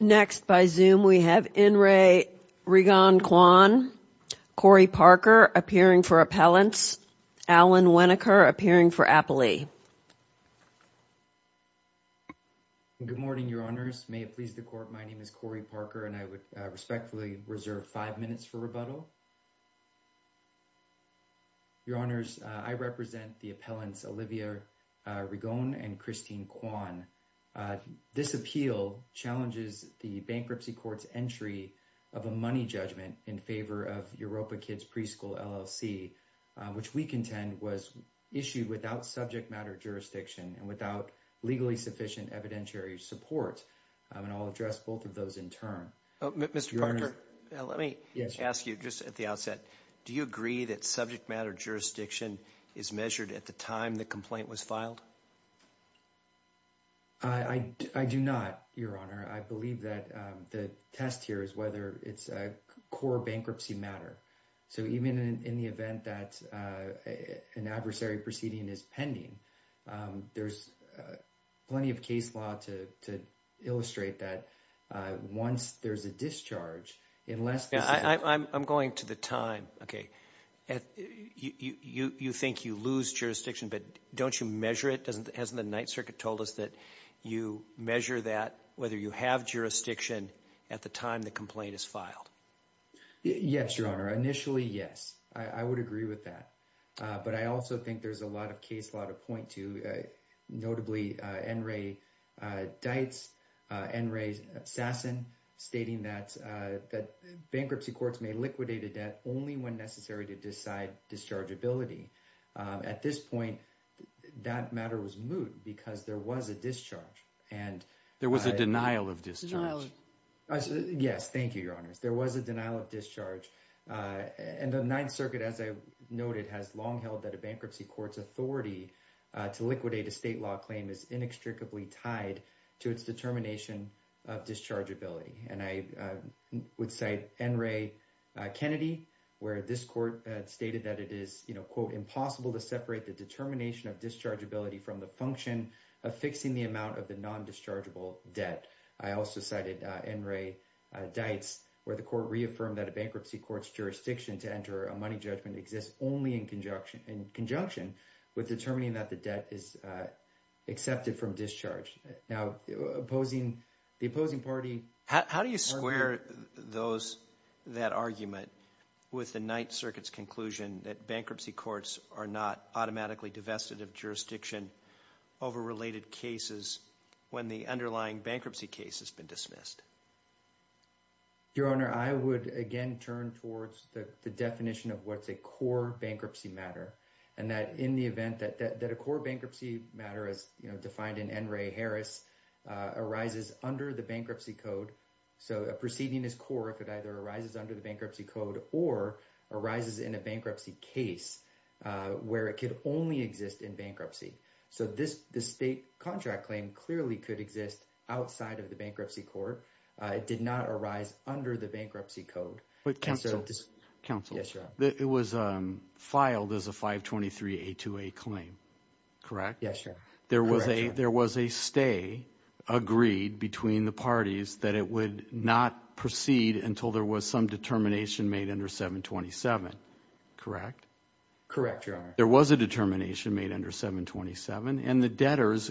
Next, by Zoom, we have In re Rigon Kwan, Corey Parker, appearing for appellants, Alan Winokur, appearing for Appalee. Good morning, your honors. May it please the court, my name is Corey Parker, and I would respectfully reserve five minutes for rebuttal. Your honors, I represent the appellants Olivia Rigon and Christine Kwan. This appeal challenges the bankruptcy court's entry of a money judgment in favor of Europa Kids Preschool LLC, which we contend was issued without subject matter jurisdiction and without legally sufficient evidentiary support, and I'll address both of those in turn. Mr. Parker, let me ask you just at the outset, do you agree that subject matter jurisdiction is measured at the time the complaint was filed? I do not, your honor. I believe that the test here is whether it's a core bankruptcy matter. So even in the event that an adversary proceeding is pending, there's plenty of case law to illustrate that once there's a discharge, unless... I'm going to the time, okay. You think you lose jurisdiction, but don't you measure it? Hasn't the Ninth Circuit told us that you measure that whether you have jurisdiction at the time the complaint is filed? Yes, your honor. Initially, yes, I would agree with that. But I also think there's a lot of case law to point to, notably N. Ray Deitz, N. Ray Sasson, stating that bankruptcy courts may liquidate a debt only when necessary to decide dischargeability. At this point, that matter was moot because there was a discharge. There was a denial of discharge. Yes. Thank you, your honors. There was a denial of discharge. And the Ninth Circuit, as I noted, has long held that a bankruptcy court's authority to liquidate a state law claim is inextricably tied to its determination of dischargeability. And I would cite N. Ray Kennedy, where this court stated that it is, quote, impossible to separate the determination of dischargeability from the function of fixing the amount of the non-dischargeable debt. I also cited N. Ray Deitz, where the court reaffirmed that a bankruptcy court's jurisdiction to enter a money judgment exists only in conjunction with determining that the debt is accepted from discharge. Now, the opposing party— How do you square that argument with the Ninth Circuit's conclusion that bankruptcy courts are not automatically divested of jurisdiction over related cases when the underlying bankruptcy case has been dismissed? Your honor, I would again turn towards the definition of what's a core bankruptcy matter and that in the event that a core bankruptcy matter, as defined in N. Ray Harris, arises under the bankruptcy code. So a proceeding is core if it either arises under the bankruptcy code or arises in a bankruptcy case where it could only exist in bankruptcy. So this state contract claim clearly could exist outside of the bankruptcy court. It did not arise under the bankruptcy code. But counsel, it was filed as a 523-828 claim, correct? Yes, your honor. There was a stay agreed between the parties that it would not proceed until there was some determination made under 727, correct? Correct your honor. There was a determination made under 727 and the debtors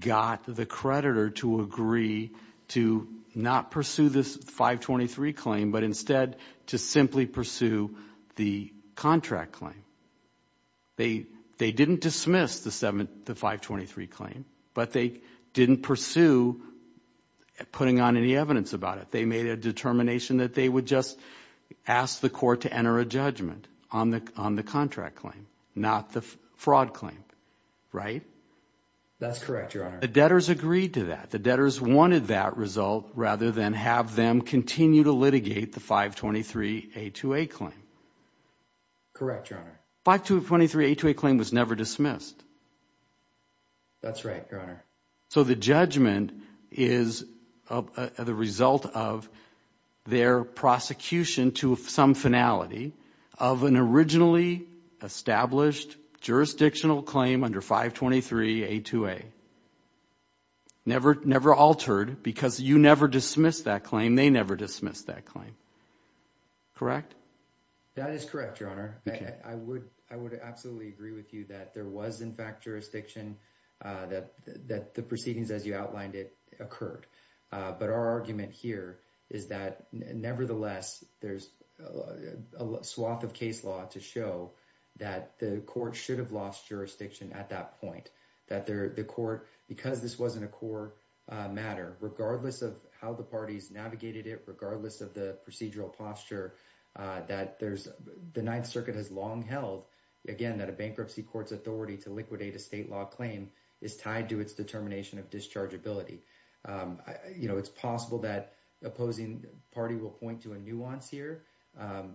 got the creditor to agree to not pursue this 523 claim, but instead to simply pursue the contract claim. They didn't dismiss the 523 claim, but they didn't pursue putting on any evidence about it. They made a determination that they would just ask the court to enter a judgment on the contract claim, not the fraud claim, right? That's correct, your honor. The debtors agreed to that. The debtors wanted that result rather than have them continue to litigate the 523-828 claim. Correct, your honor. 523-828 claim was never dismissed. That's right, your honor. So the judgment is the result of their prosecution to some finality of an originally established jurisdictional claim under 523-828. Never altered because you never dismissed that claim. They never dismissed that claim, correct? That is correct, your honor. I would absolutely agree with you that there was in fact jurisdiction that the proceedings as you outlined it occurred. But our argument here is that nevertheless, there's a swath of case law to show that the court should have lost jurisdiction at that point, that the court, because this wasn't a core matter, regardless of how the parties navigated it, regardless of the procedural posture, that the Ninth Circuit has long held, again, that a bankruptcy court's authority to liquidate a state law claim is tied to its determination of dischargeability. You know, it's possible that the opposing party will point to a nuance here,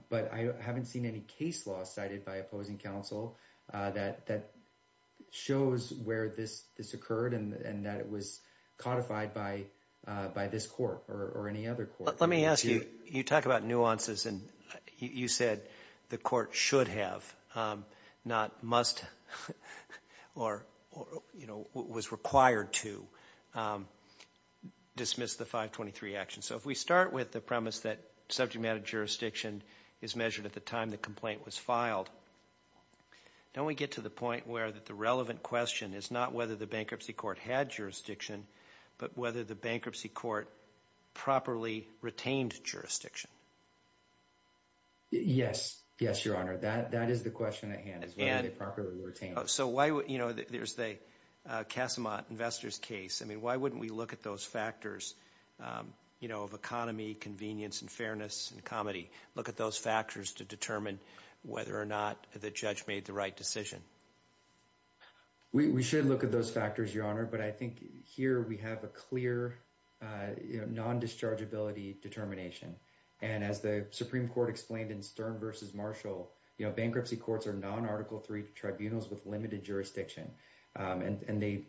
but I haven't seen any case law cited by opposing counsel that shows where this occurred and that it was codified by this court or any other court. But let me ask you, you talk about nuances and you said the court should have, not must or was required to dismiss the 523 action. So if we start with the premise that subject matter jurisdiction is measured at the time the complaint was filed, don't we get to the point where the relevant question is not whether the bankruptcy court had jurisdiction, but whether the bankruptcy court properly retained jurisdiction? Yes. Yes, Your Honor, that is the question at hand, is whether they properly retained it. So why would, you know, there's the Casamat Investors case, I mean, why wouldn't we look at those factors, you know, of economy, convenience and fairness and comedy, look at those factors to determine whether or not the judge made the right decision? We should look at those factors, Your Honor, but I think here we have a clear, you know, non-dischargeability determination. And as the Supreme Court explained in Stern v. Marshall, you know, bankruptcy courts are non-Article III tribunals with limited jurisdiction and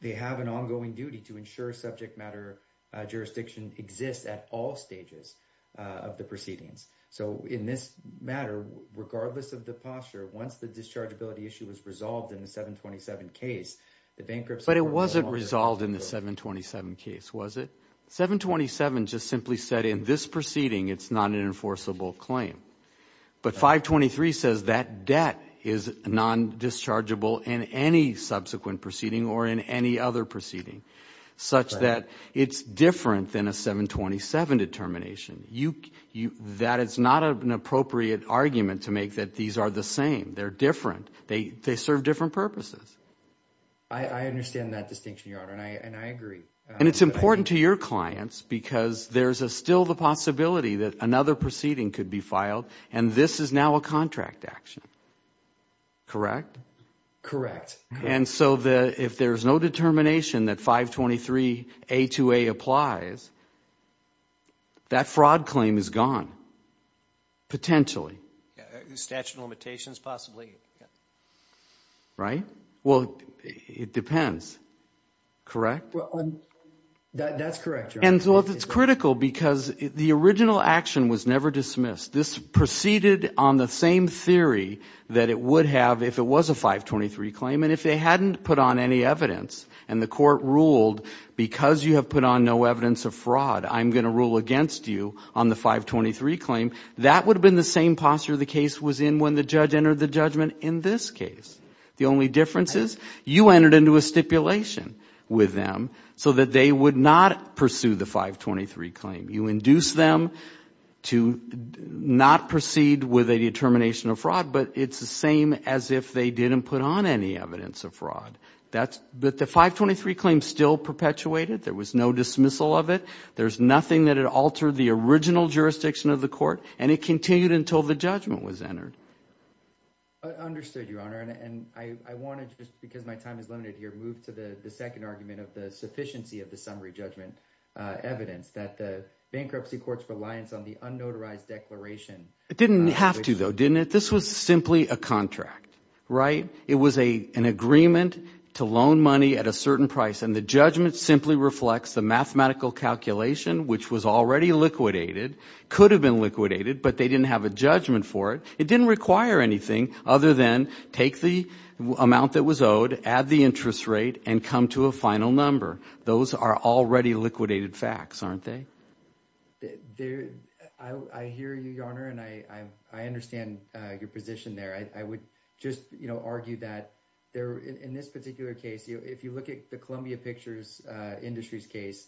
they have an ongoing duty to ensure subject matter jurisdiction exists at all stages of the proceedings. So in this matter, regardless of the posture, once the dischargeability issue was resolved in the 727 case, the bankruptcy court... But it wasn't resolved in the 727 case, was it? 727 just simply said in this proceeding, it's not an enforceable claim. But 523 says that debt is non-dischargeable in any subsequent proceeding or in any other proceeding such that it's different than a 727 determination. That is not an appropriate argument to make that these are the same. They're different. They serve different purposes. I understand that distinction, Your Honor, and I agree. And it's important to your clients because there's still the possibility that another proceeding could be filed and this is now a contract action. Correct? Correct. Yes. And so if there's no determination that 523A2A applies, that fraud claim is gone, potentially. Statute of limitations, possibly, yeah. Right? Well, it depends, correct? That's correct, Your Honor. And so it's critical because the original action was never dismissed. This proceeded on the same theory that it would have if it was a 523 claim and if they hadn't put on any evidence and the court ruled because you have put on no evidence of fraud, I'm going to rule against you on the 523 claim, that would have been the same posture the case was in when the judge entered the judgment in this case. The only difference is you entered into a stipulation with them so that they would not pursue the 523 claim. You induce them to not proceed with a determination of fraud, but it's the same as if they didn't put on any evidence of fraud. But the 523 claim still perpetuated. There was no dismissal of it. There's nothing that it altered the original jurisdiction of the court and it continued until the judgment was entered. Understood, Your Honor. And I want to, just because my time is limited here, move to the second argument of the sufficiency of the summary judgment evidence that the bankruptcy courts reliance on the unnotarized declaration. It didn't have to though, didn't it? This was simply a contract, right? It was an agreement to loan money at a certain price and the judgment simply reflects the mathematical calculation which was already liquidated, could have been liquidated, but they didn't have a judgment for it. It didn't require anything other than take the amount that was owed, add the interest rate and come to a final number. Those are already liquidated facts, aren't they? I hear you, Your Honor, and I understand your position there. I would just, you know, argue that in this particular case, if you look at the Columbia Pictures Industries case,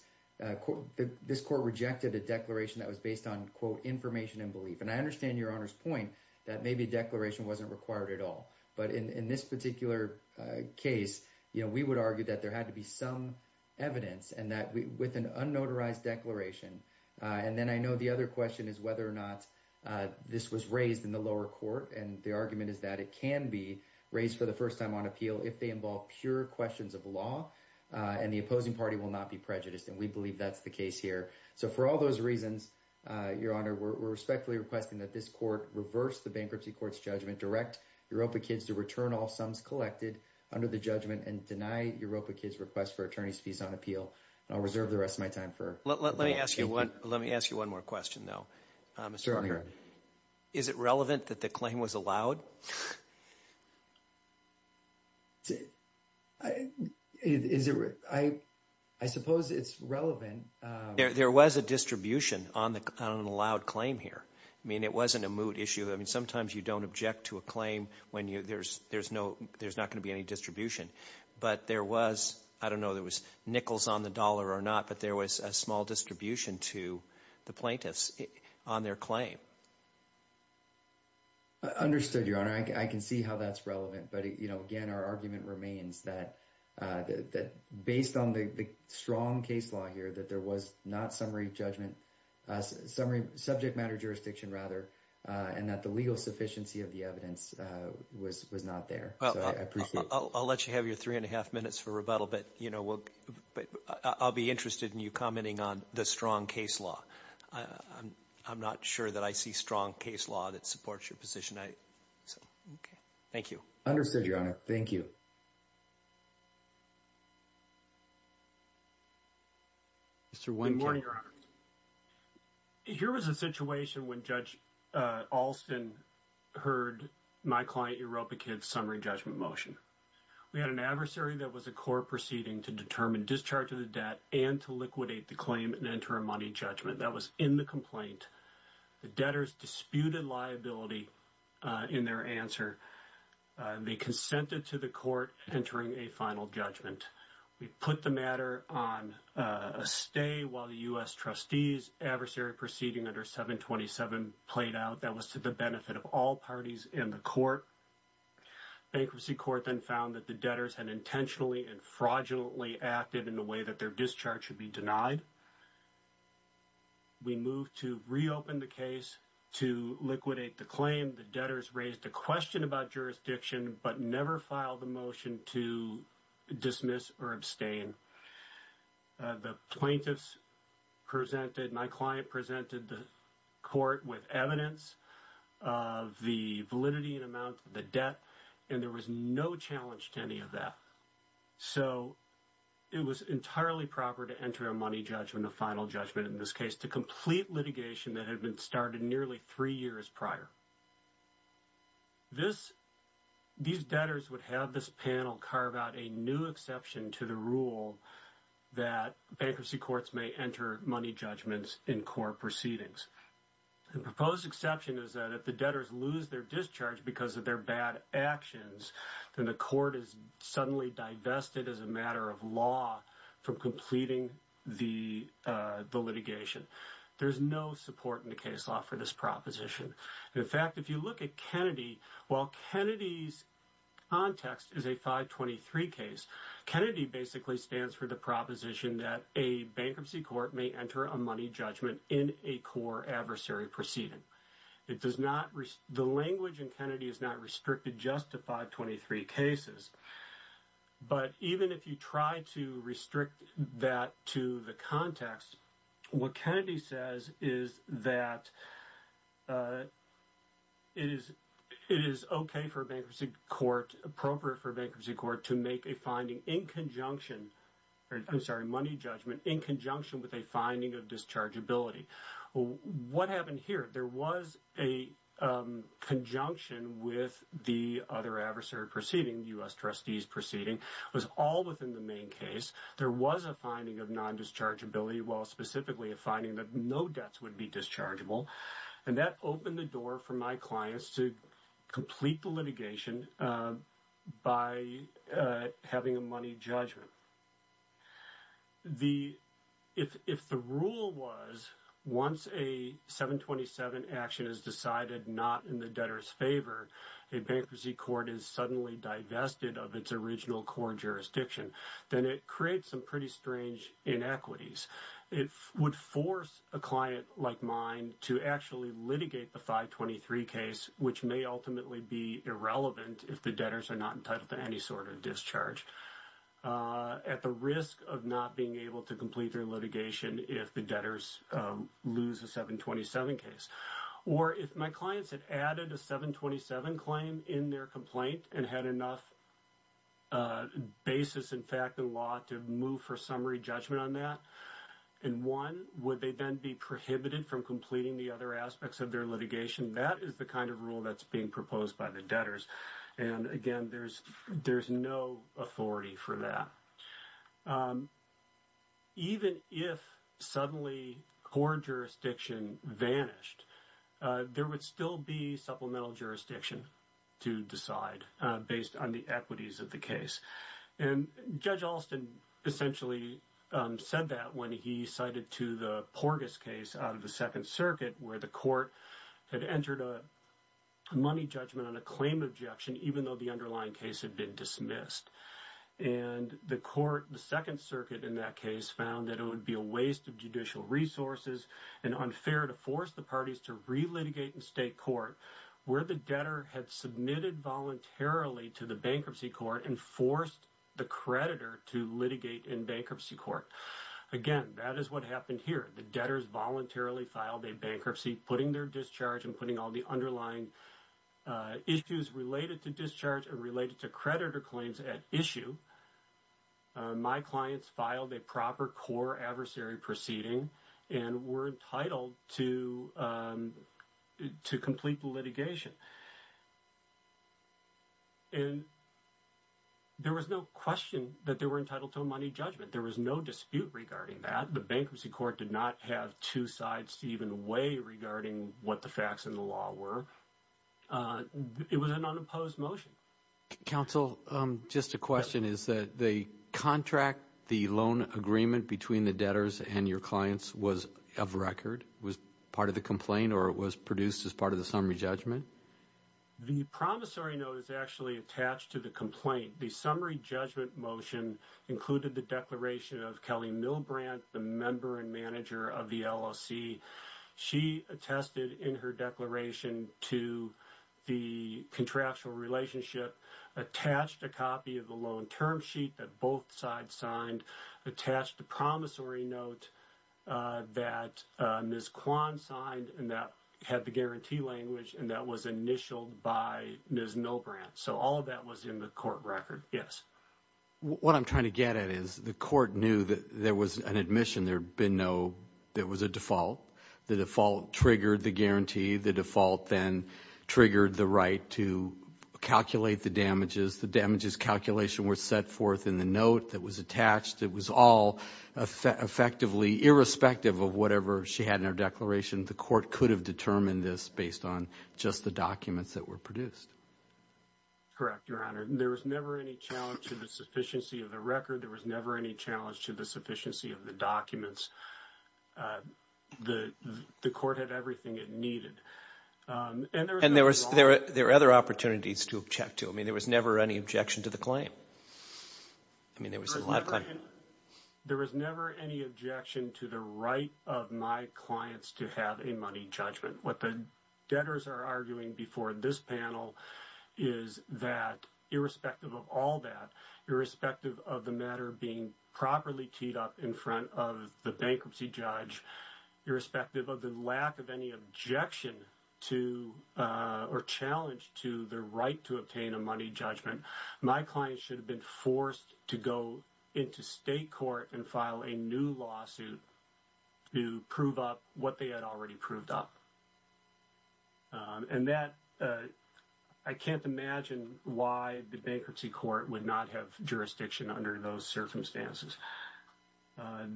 this court rejected a declaration that was based on, quote, information and belief. And I understand Your Honor's point that maybe a declaration wasn't required at all. But in this particular case, you know, we would argue that there had to be some evidence and that with an unnotarized declaration. And then I know the other question is whether or not this was raised in the lower court and the argument is that it can be raised for the first time on appeal if they involve pure questions of law and the opposing party will not be prejudiced and we believe that's the case here. So for all those reasons, Your Honor, we're respectfully requesting that this court reverse the bankruptcy court's judgment, direct Europa Kids to return all sums collected under the judgment and deny Europa Kids' request for attorney's fees on appeal. I'll reserve the rest of my time for... Let me ask you one more question though, Mr. Parker. Is it relevant that the claim was allowed? I suppose it's relevant. There was a distribution on an allowed claim here. I mean, it wasn't a moot issue. I mean, sometimes you don't object to a claim when there's not going to be any distribution. But there was, I don't know, there was nickels on the dollar or not, but there was a small distribution to the plaintiffs on their claim. Understood, Your Honor. I can see how that's relevant. But, you know, again, our argument remains that based on the strong case law here that there was not summary judgment, subject matter jurisdiction rather, and that the legal sufficiency of the evidence was not there. So I appreciate that. I'll let you have your three and a half minutes for rebuttal, but, you know, I'll be interested in you commenting on the strong case law. I'm not sure that I see strong case law that supports your position. So, okay. Thank you. Understood, Your Honor. Thank you. Mr. Wynne. Good morning, Your Honor. Here was a situation when Judge Alston heard my client EuropaKid's summary judgment motion. We had an adversary that was a court proceeding to determine discharge of the debt and to liquidate the claim and enter a money judgment. That was in the complaint. The debtors disputed liability in their answer. They consented to the court entering a final judgment. We put the matter on a stay while the U.S. trustees' adversary proceeding under 727 played out. That was to the benefit of all parties in the court. Bankruptcy court then found that the debtors had intentionally and fraudulently acted in a way that their discharge should be denied. We moved to reopen the case to liquidate the claim. Again, the debtors raised a question about jurisdiction but never filed a motion to dismiss or abstain. The plaintiffs presented, my client presented the court with evidence of the validity and amount of the debt and there was no challenge to any of that. So, it was entirely proper to enter a money judgment, a final judgment in this case to complete litigation that had been started nearly three years prior. These debtors would have this panel carve out a new exception to the rule that bankruptcy courts may enter money judgments in court proceedings. The proposed exception is that if the debtors lose their discharge because of their bad actions, then the court is suddenly divested as a matter of law from completing the litigation. There is no support in the case law for this proposition. In fact, if you look at Kennedy, while Kennedy's context is a 523 case, Kennedy basically stands for the proposition that a bankruptcy court may enter a money judgment in a core adversary proceeding. The language in Kennedy is not restricted just to 523 cases. But, even if you try to restrict that to the context, what Kennedy says is that it is okay for a bankruptcy court, appropriate for a bankruptcy court to make a finding in conjunction or, I'm sorry, money judgment in conjunction with a finding of dischargeability. What happened here? There was a conjunction with the other adversary proceeding, U.S. Trustees proceeding, was all within the main case. There was a finding of non-dischargeability, well, specifically a finding that no debts would be dischargeable. And that opened the door for my clients to complete the litigation by having a money judgment. If the rule was once a 727 action is decided not in the debtor's favor, a bankruptcy court is suddenly divested of its original core jurisdiction, then it creates some pretty strange inequities. It would force a client like mine to actually litigate the 523 case, which may ultimately be irrelevant if the debtors are not entitled to any sort of discharge, at the risk of not being able to complete their litigation if the debtors lose a 727 case. Or if my clients had added a 727 claim in their complaint and had enough basis in fact and law to move for summary judgment on that, and one, would they then be prohibited from completing the other aspects of their litigation? That is the kind of rule that's being proposed by the debtors. And again, there's no authority for that. Even if suddenly core jurisdiction vanished, there would still be supplemental jurisdiction to decide based on the equities of the case. And Judge Alston essentially said that when he cited to the Porgas case out of the Second Circuit, where the court had entered a money judgment on a claim objection, even though the underlying case had been dismissed, and the court, the Second Circuit in that case found that it would be a waste of judicial resources and unfair to force the parties to re-litigate in state court, where the debtor had submitted voluntarily to the bankruptcy court and forced the creditor to litigate in bankruptcy court. Again, that is what happened here. The debtors voluntarily filed a bankruptcy, putting their discharge and putting all the underlying issues related to discharge and related to creditor claims at issue. My clients filed a proper core adversary proceeding and were entitled to complete the litigation. And there was no question that they were entitled to a money judgment. There was no dispute regarding that. The bankruptcy court did not have two sides to even weigh regarding what the facts in the law were. It was an unopposed motion. Counsel, just a question, is that the contract, the loan agreement between the debtors and your clients was of record? Was part of the complaint or it was produced as part of the summary judgment? The promissory note is actually attached to the complaint. The summary judgment motion included the declaration of Kelly Milbrandt, the member and manager of the LOC. She attested in her declaration to the contractual relationship, attached a copy of the loan term sheet that both sides signed, attached a promissory note that Ms. Kwan signed and that had the guarantee language and that was initialed by Ms. Milbrandt. So all of that was in the court record, yes. What I'm trying to get at is the court knew that there was an admission. There had been no, there was a default. The default triggered the guarantee. The default then triggered the right to calculate the damages. The damages calculation were set forth in the note that was attached. It was all effectively, irrespective of whatever she had in her declaration, the court could have determined this based on just the documents that were produced. Correct, Your Honor. There was never any challenge to the sufficiency of the record. There was never any challenge to the sufficiency of the documents. The court had everything it needed. And there were other opportunities to object to. I mean, there was never any objection to the claim. I mean, there was a lot of claims. There was never any objection to the right of my clients to have a money judgment. What the debtors are arguing before this panel is that irrespective of all that, irrespective of the matter being properly teed up in front of the bankruptcy judge, irrespective of the lack of any objection to or challenge to the right to obtain a money judgment, my clients should have been forced to go into state court and file a new lawsuit to prove up what they had already proved up. And that, I can't imagine why the bankruptcy court would not have jurisdiction under those circumstances.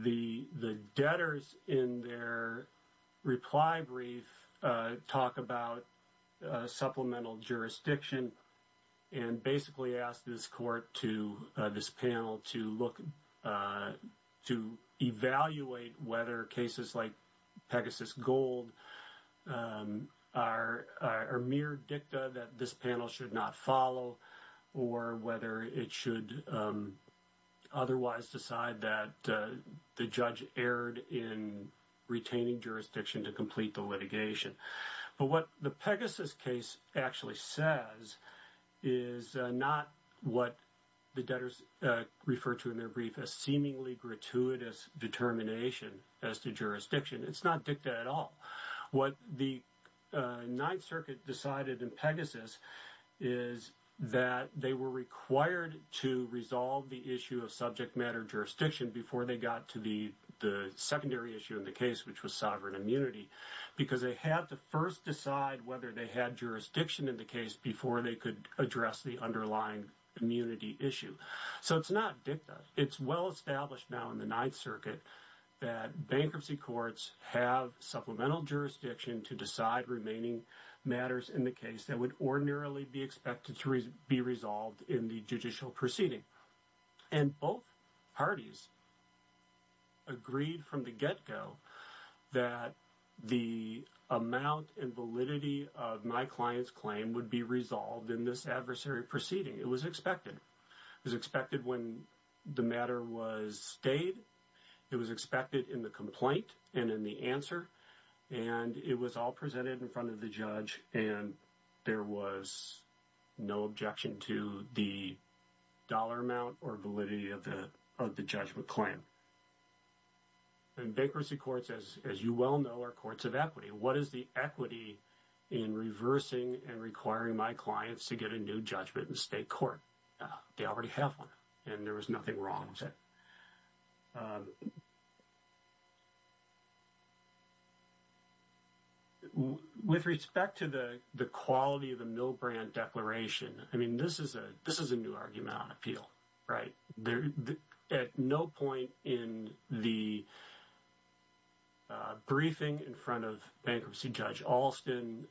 The debtors in their reply brief talk about supplemental jurisdiction and basically ask this court to this panel to look to evaluate whether cases like Pegasus Gold are mere dicta that this panel should not follow or whether it should otherwise decide that the judge erred in retaining jurisdiction to complete the litigation. But what the Pegasus case actually says is not what the debtors refer to in their brief as seemingly gratuitous determination as to jurisdiction. It's not dicta at all. What the Ninth Circuit decided in Pegasus is that they were required to resolve the issue of subject matter jurisdiction before they got to the secondary issue of the case, which was sovereign immunity, because they had to first decide whether they had jurisdiction in the case before they could address the underlying immunity issue. So it's not dicta. It's well established now in the Ninth Circuit that bankruptcy courts have supplemental jurisdiction to decide remaining matters in the case that would ordinarily be expected to be resolved in the judicial proceeding. And both parties agreed from the get-go that the amount and validity of my client's claim would be resolved in this adversary proceeding. It was expected. It was expected when the matter was stayed. It was expected in the complaint and in the answer. And it was all presented in front of the judge, and there was no objection to the dollar amount or validity of the judgment claim. And bankruptcy courts, as you well know, are courts of equity. What is the equity in reversing and requiring my clients to get a new judgment in state court? They already have one, and there was nothing wrong with it. With respect to the quality of the Milbrandt Declaration, I mean, this is a new argument on appeal, right? At no point in the briefing in front of Bankruptcy Judge Alston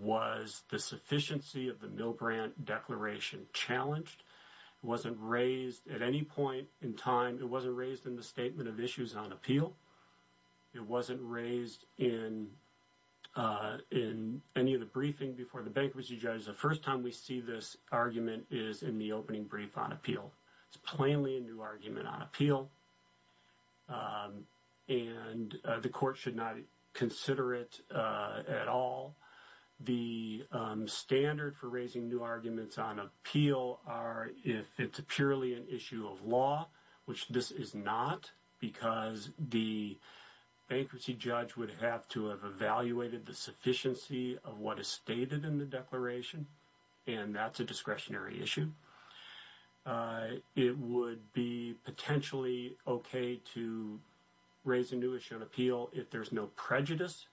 was the sufficiency of the Milbrandt Declaration challenged. It wasn't raised at any point in time. It wasn't raised in the Statement of Issues on Appeal. It wasn't raised in any of the briefing before the Bankruptcy Judge. The first time we see this argument is in the opening brief on appeal. It's plainly a new argument on appeal, and the court should not consider it at all. The standard for raising new arguments on appeal are if it's purely an issue of law, which this is not because the Bankruptcy Judge would have to have evaluated the sufficiency of what is stated in the Declaration, and that's a discretionary issue. It would be potentially okay to raise a new issue on appeal if there's no prejudice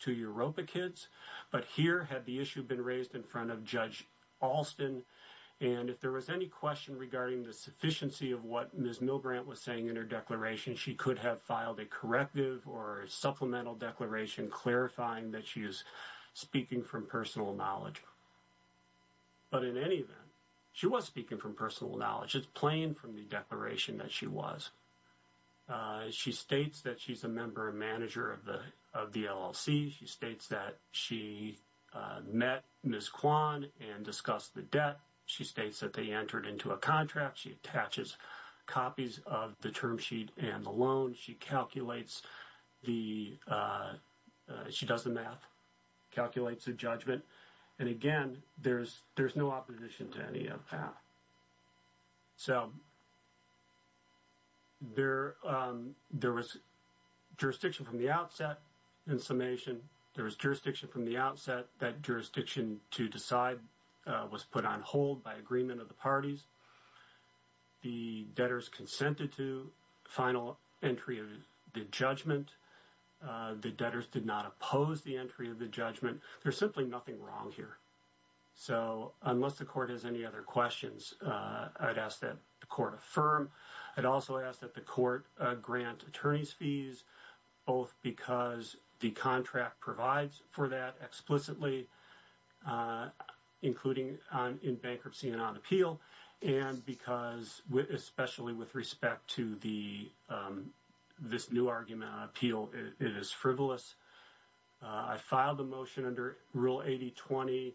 to Europa kids, but here had the issue been raised in front of Judge Alston, and if there was any question regarding the sufficiency of what Ms. Milbrandt was saying in her Declaration, she could have filed a corrective or supplemental Declaration clarifying that she is speaking from personal knowledge. But in any event, she was speaking from personal knowledge. It's plain from the Declaration that she was. She states that she's a member and manager of the LLC. She states that she met Ms. Kwan and discussed the debt. She states that they entered into a contract. She attaches copies of the term sheet and the loan. She calculates the, she does the math, calculates the judgment, and again, there's no opposition to any of that. So there was jurisdiction from the outset in summation. There was jurisdiction from the outset. That jurisdiction to decide was put on hold by agreement of the parties. The debtors consented to final entry of the judgment. The debtors did not oppose the entry of the judgment. There's simply nothing wrong here. So unless the court has any other questions, I'd ask that the court affirm. I'd also ask that the court grant attorney's fees, both because the contract provides for that explicitly, including in bankruptcy and on appeal, and because, especially with respect to the, this new argument on appeal, it is frivolous. I filed the motion under Rule 8020.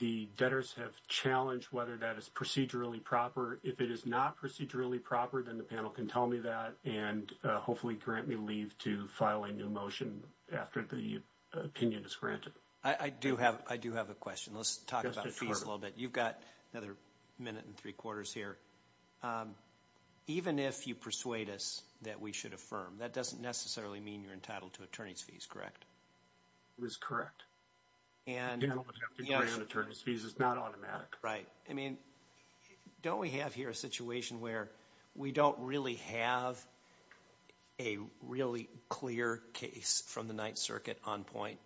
The debtors have challenged whether that is procedurally proper. If it is not procedurally proper, then the panel can tell me that and hopefully grant me leave to file a new motion after the opinion is granted. I do have, I do have a question. Let's talk about fees a little bit. You've got another minute and three quarters here. Even if you persuade us that we should affirm, that doesn't necessarily mean you're entitled to attorney's fees, correct? It is correct. And the panel would have to grant attorney's fees. It's not automatic. Right. But, I mean, don't we have here a situation where we don't really have a really clear case from the Ninth Circuit on point?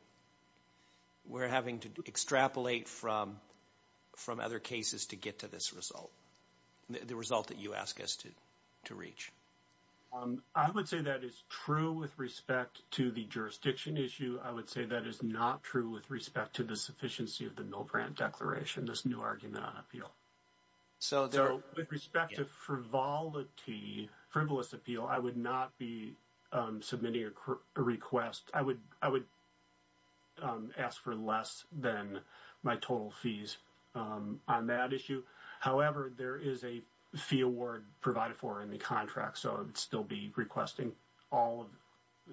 We're having to extrapolate from other cases to get to this result, the result that you ask us to reach. I would say that is true with respect to the jurisdiction issue. I would say that is not true with respect to the sufficiency of the Mill Grant Declaration, this new argument on appeal. So with respect to frivolity, frivolous appeal, I would not be submitting a request. I would, I would ask for less than my total fees on that issue. However, there is a fee award provided for in the contract. So I'd still be requesting all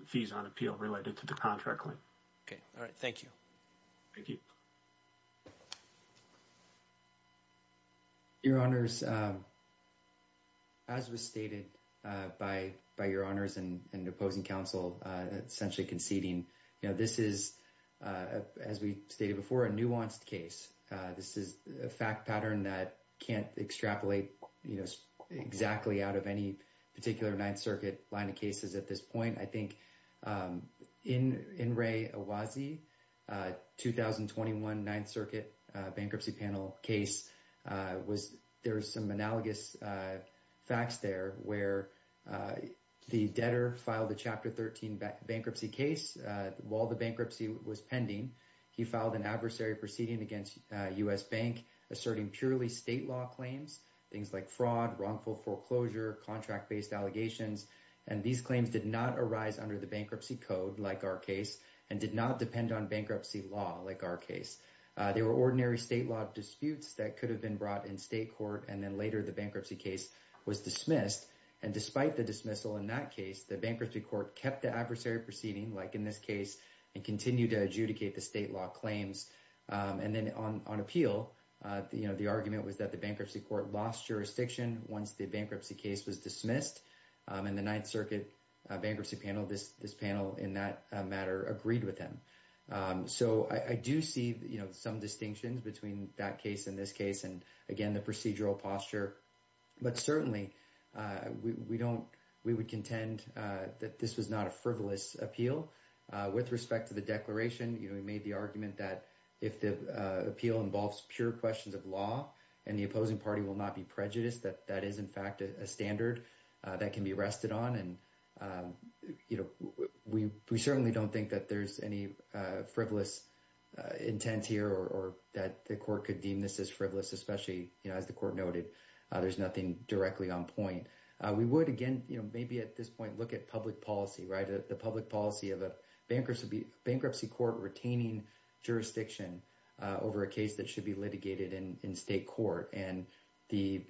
fees on appeal related to the contract claim. Okay. All right. Thank you. Thank you. Thank you. Thank you. Your honors, as was stated by your honors and opposing counsel, essentially conceding, you know, this is, as we stated before, a nuanced case. This is a fact pattern that can't extrapolate, you know, exactly out of any particular Ninth Circuit line of cases at this point. I think in Ray Awazi, 2021 Ninth Circuit bankruptcy panel case was, there was some analogous facts there where the debtor filed a Chapter 13 bankruptcy case while the bankruptcy was pending. He filed an adversary proceeding against U.S. Bank asserting purely state law claims, things like fraud, wrongful foreclosure, contract-based allegations. And these claims did not arise under the bankruptcy code, like our case, and did not depend on bankruptcy law, like our case. They were ordinary state law disputes that could have been brought in state court. And then later the bankruptcy case was dismissed. And despite the dismissal in that case, the bankruptcy court kept the adversary proceeding, like in this case, and continued to adjudicate the state law claims. And then on appeal, you know, the argument was that the bankruptcy court lost jurisdiction once the bankruptcy case was dismissed. And the Ninth Circuit bankruptcy panel, this panel in that matter, agreed with him. So I do see, you know, some distinctions between that case and this case, and again, the procedural posture. But certainly, we don't, we would contend that this was not a frivolous appeal. With respect to the declaration, you know, he made the argument that if the appeal involves pure questions of law, and the opposing party will not be prejudiced, that that is in fact a standard that can be rested on. And you know, we certainly don't think that there's any frivolous intent here, or that the court could deem this as frivolous, especially, you know, as the court noted, there's nothing directly on point. We would, again, you know, maybe at this point, look at public policy, right? The public policy of a bankruptcy court retaining jurisdiction over a case that should be litigated in state court, and the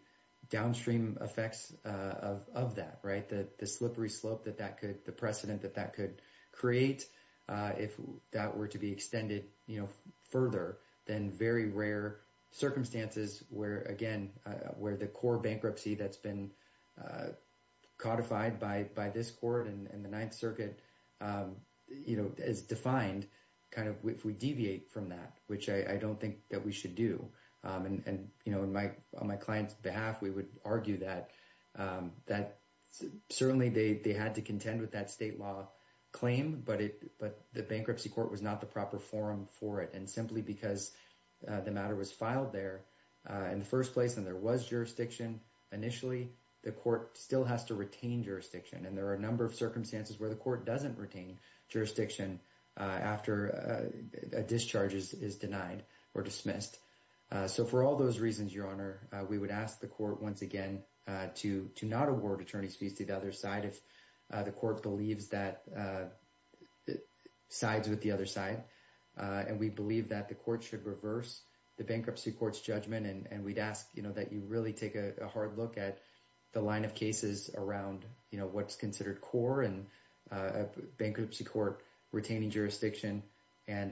downstream effects of that, right, the slippery slope that that could, the precedent that that could create, if that were to be extended, you know, further than very rare circumstances, where again, where the core bankruptcy that's been codified by this court and the Ninth Circuit, you know, is defined, kind of, if we deviate from that, which I don't think that we should do. And you know, on my client's behalf, we would argue that certainly they had to contend with that state law claim, but the bankruptcy court was not the proper forum for it. And simply because the matter was filed there in the first place, and there was jurisdiction initially, the court still has to retain jurisdiction. And there are a number of circumstances where the court doesn't retain jurisdiction after a discharge is denied or dismissed. So for all those reasons, Your Honor, we would ask the court once again, to not award attorney's fees to the other side, if the court believes that sides with the other side. And we believe that the court should reverse the bankruptcy court's judgment. And we'd ask, you know, that you really take a hard look at the line of cases around, you know, retaining jurisdiction and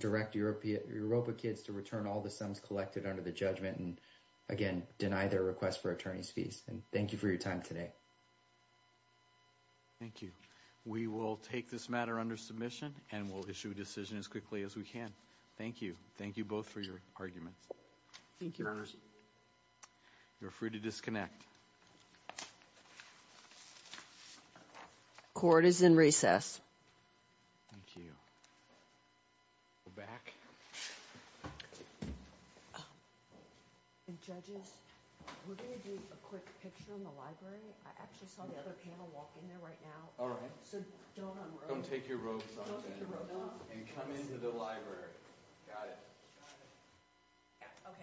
direct Europa kids to return all the sums collected under the judgment and, again, deny their request for attorney's fees. And thank you for your time today. Thank you. We will take this matter under submission and we'll issue a decision as quickly as we can. Thank you. Thank you both for your arguments. Thank you, Your Honor. You're free to disconnect. Thank you. Court is in recess. Thank you. Go back. And judges, we're going to do a quick picture in the library. I actually saw the other panel walk in there right now. All right. So don't unrobe. Don't take your robes off. Don't take your robes off. And come into the library. Got it. Got it. Yeah. Okay. Thank you. Thank you. Thank you.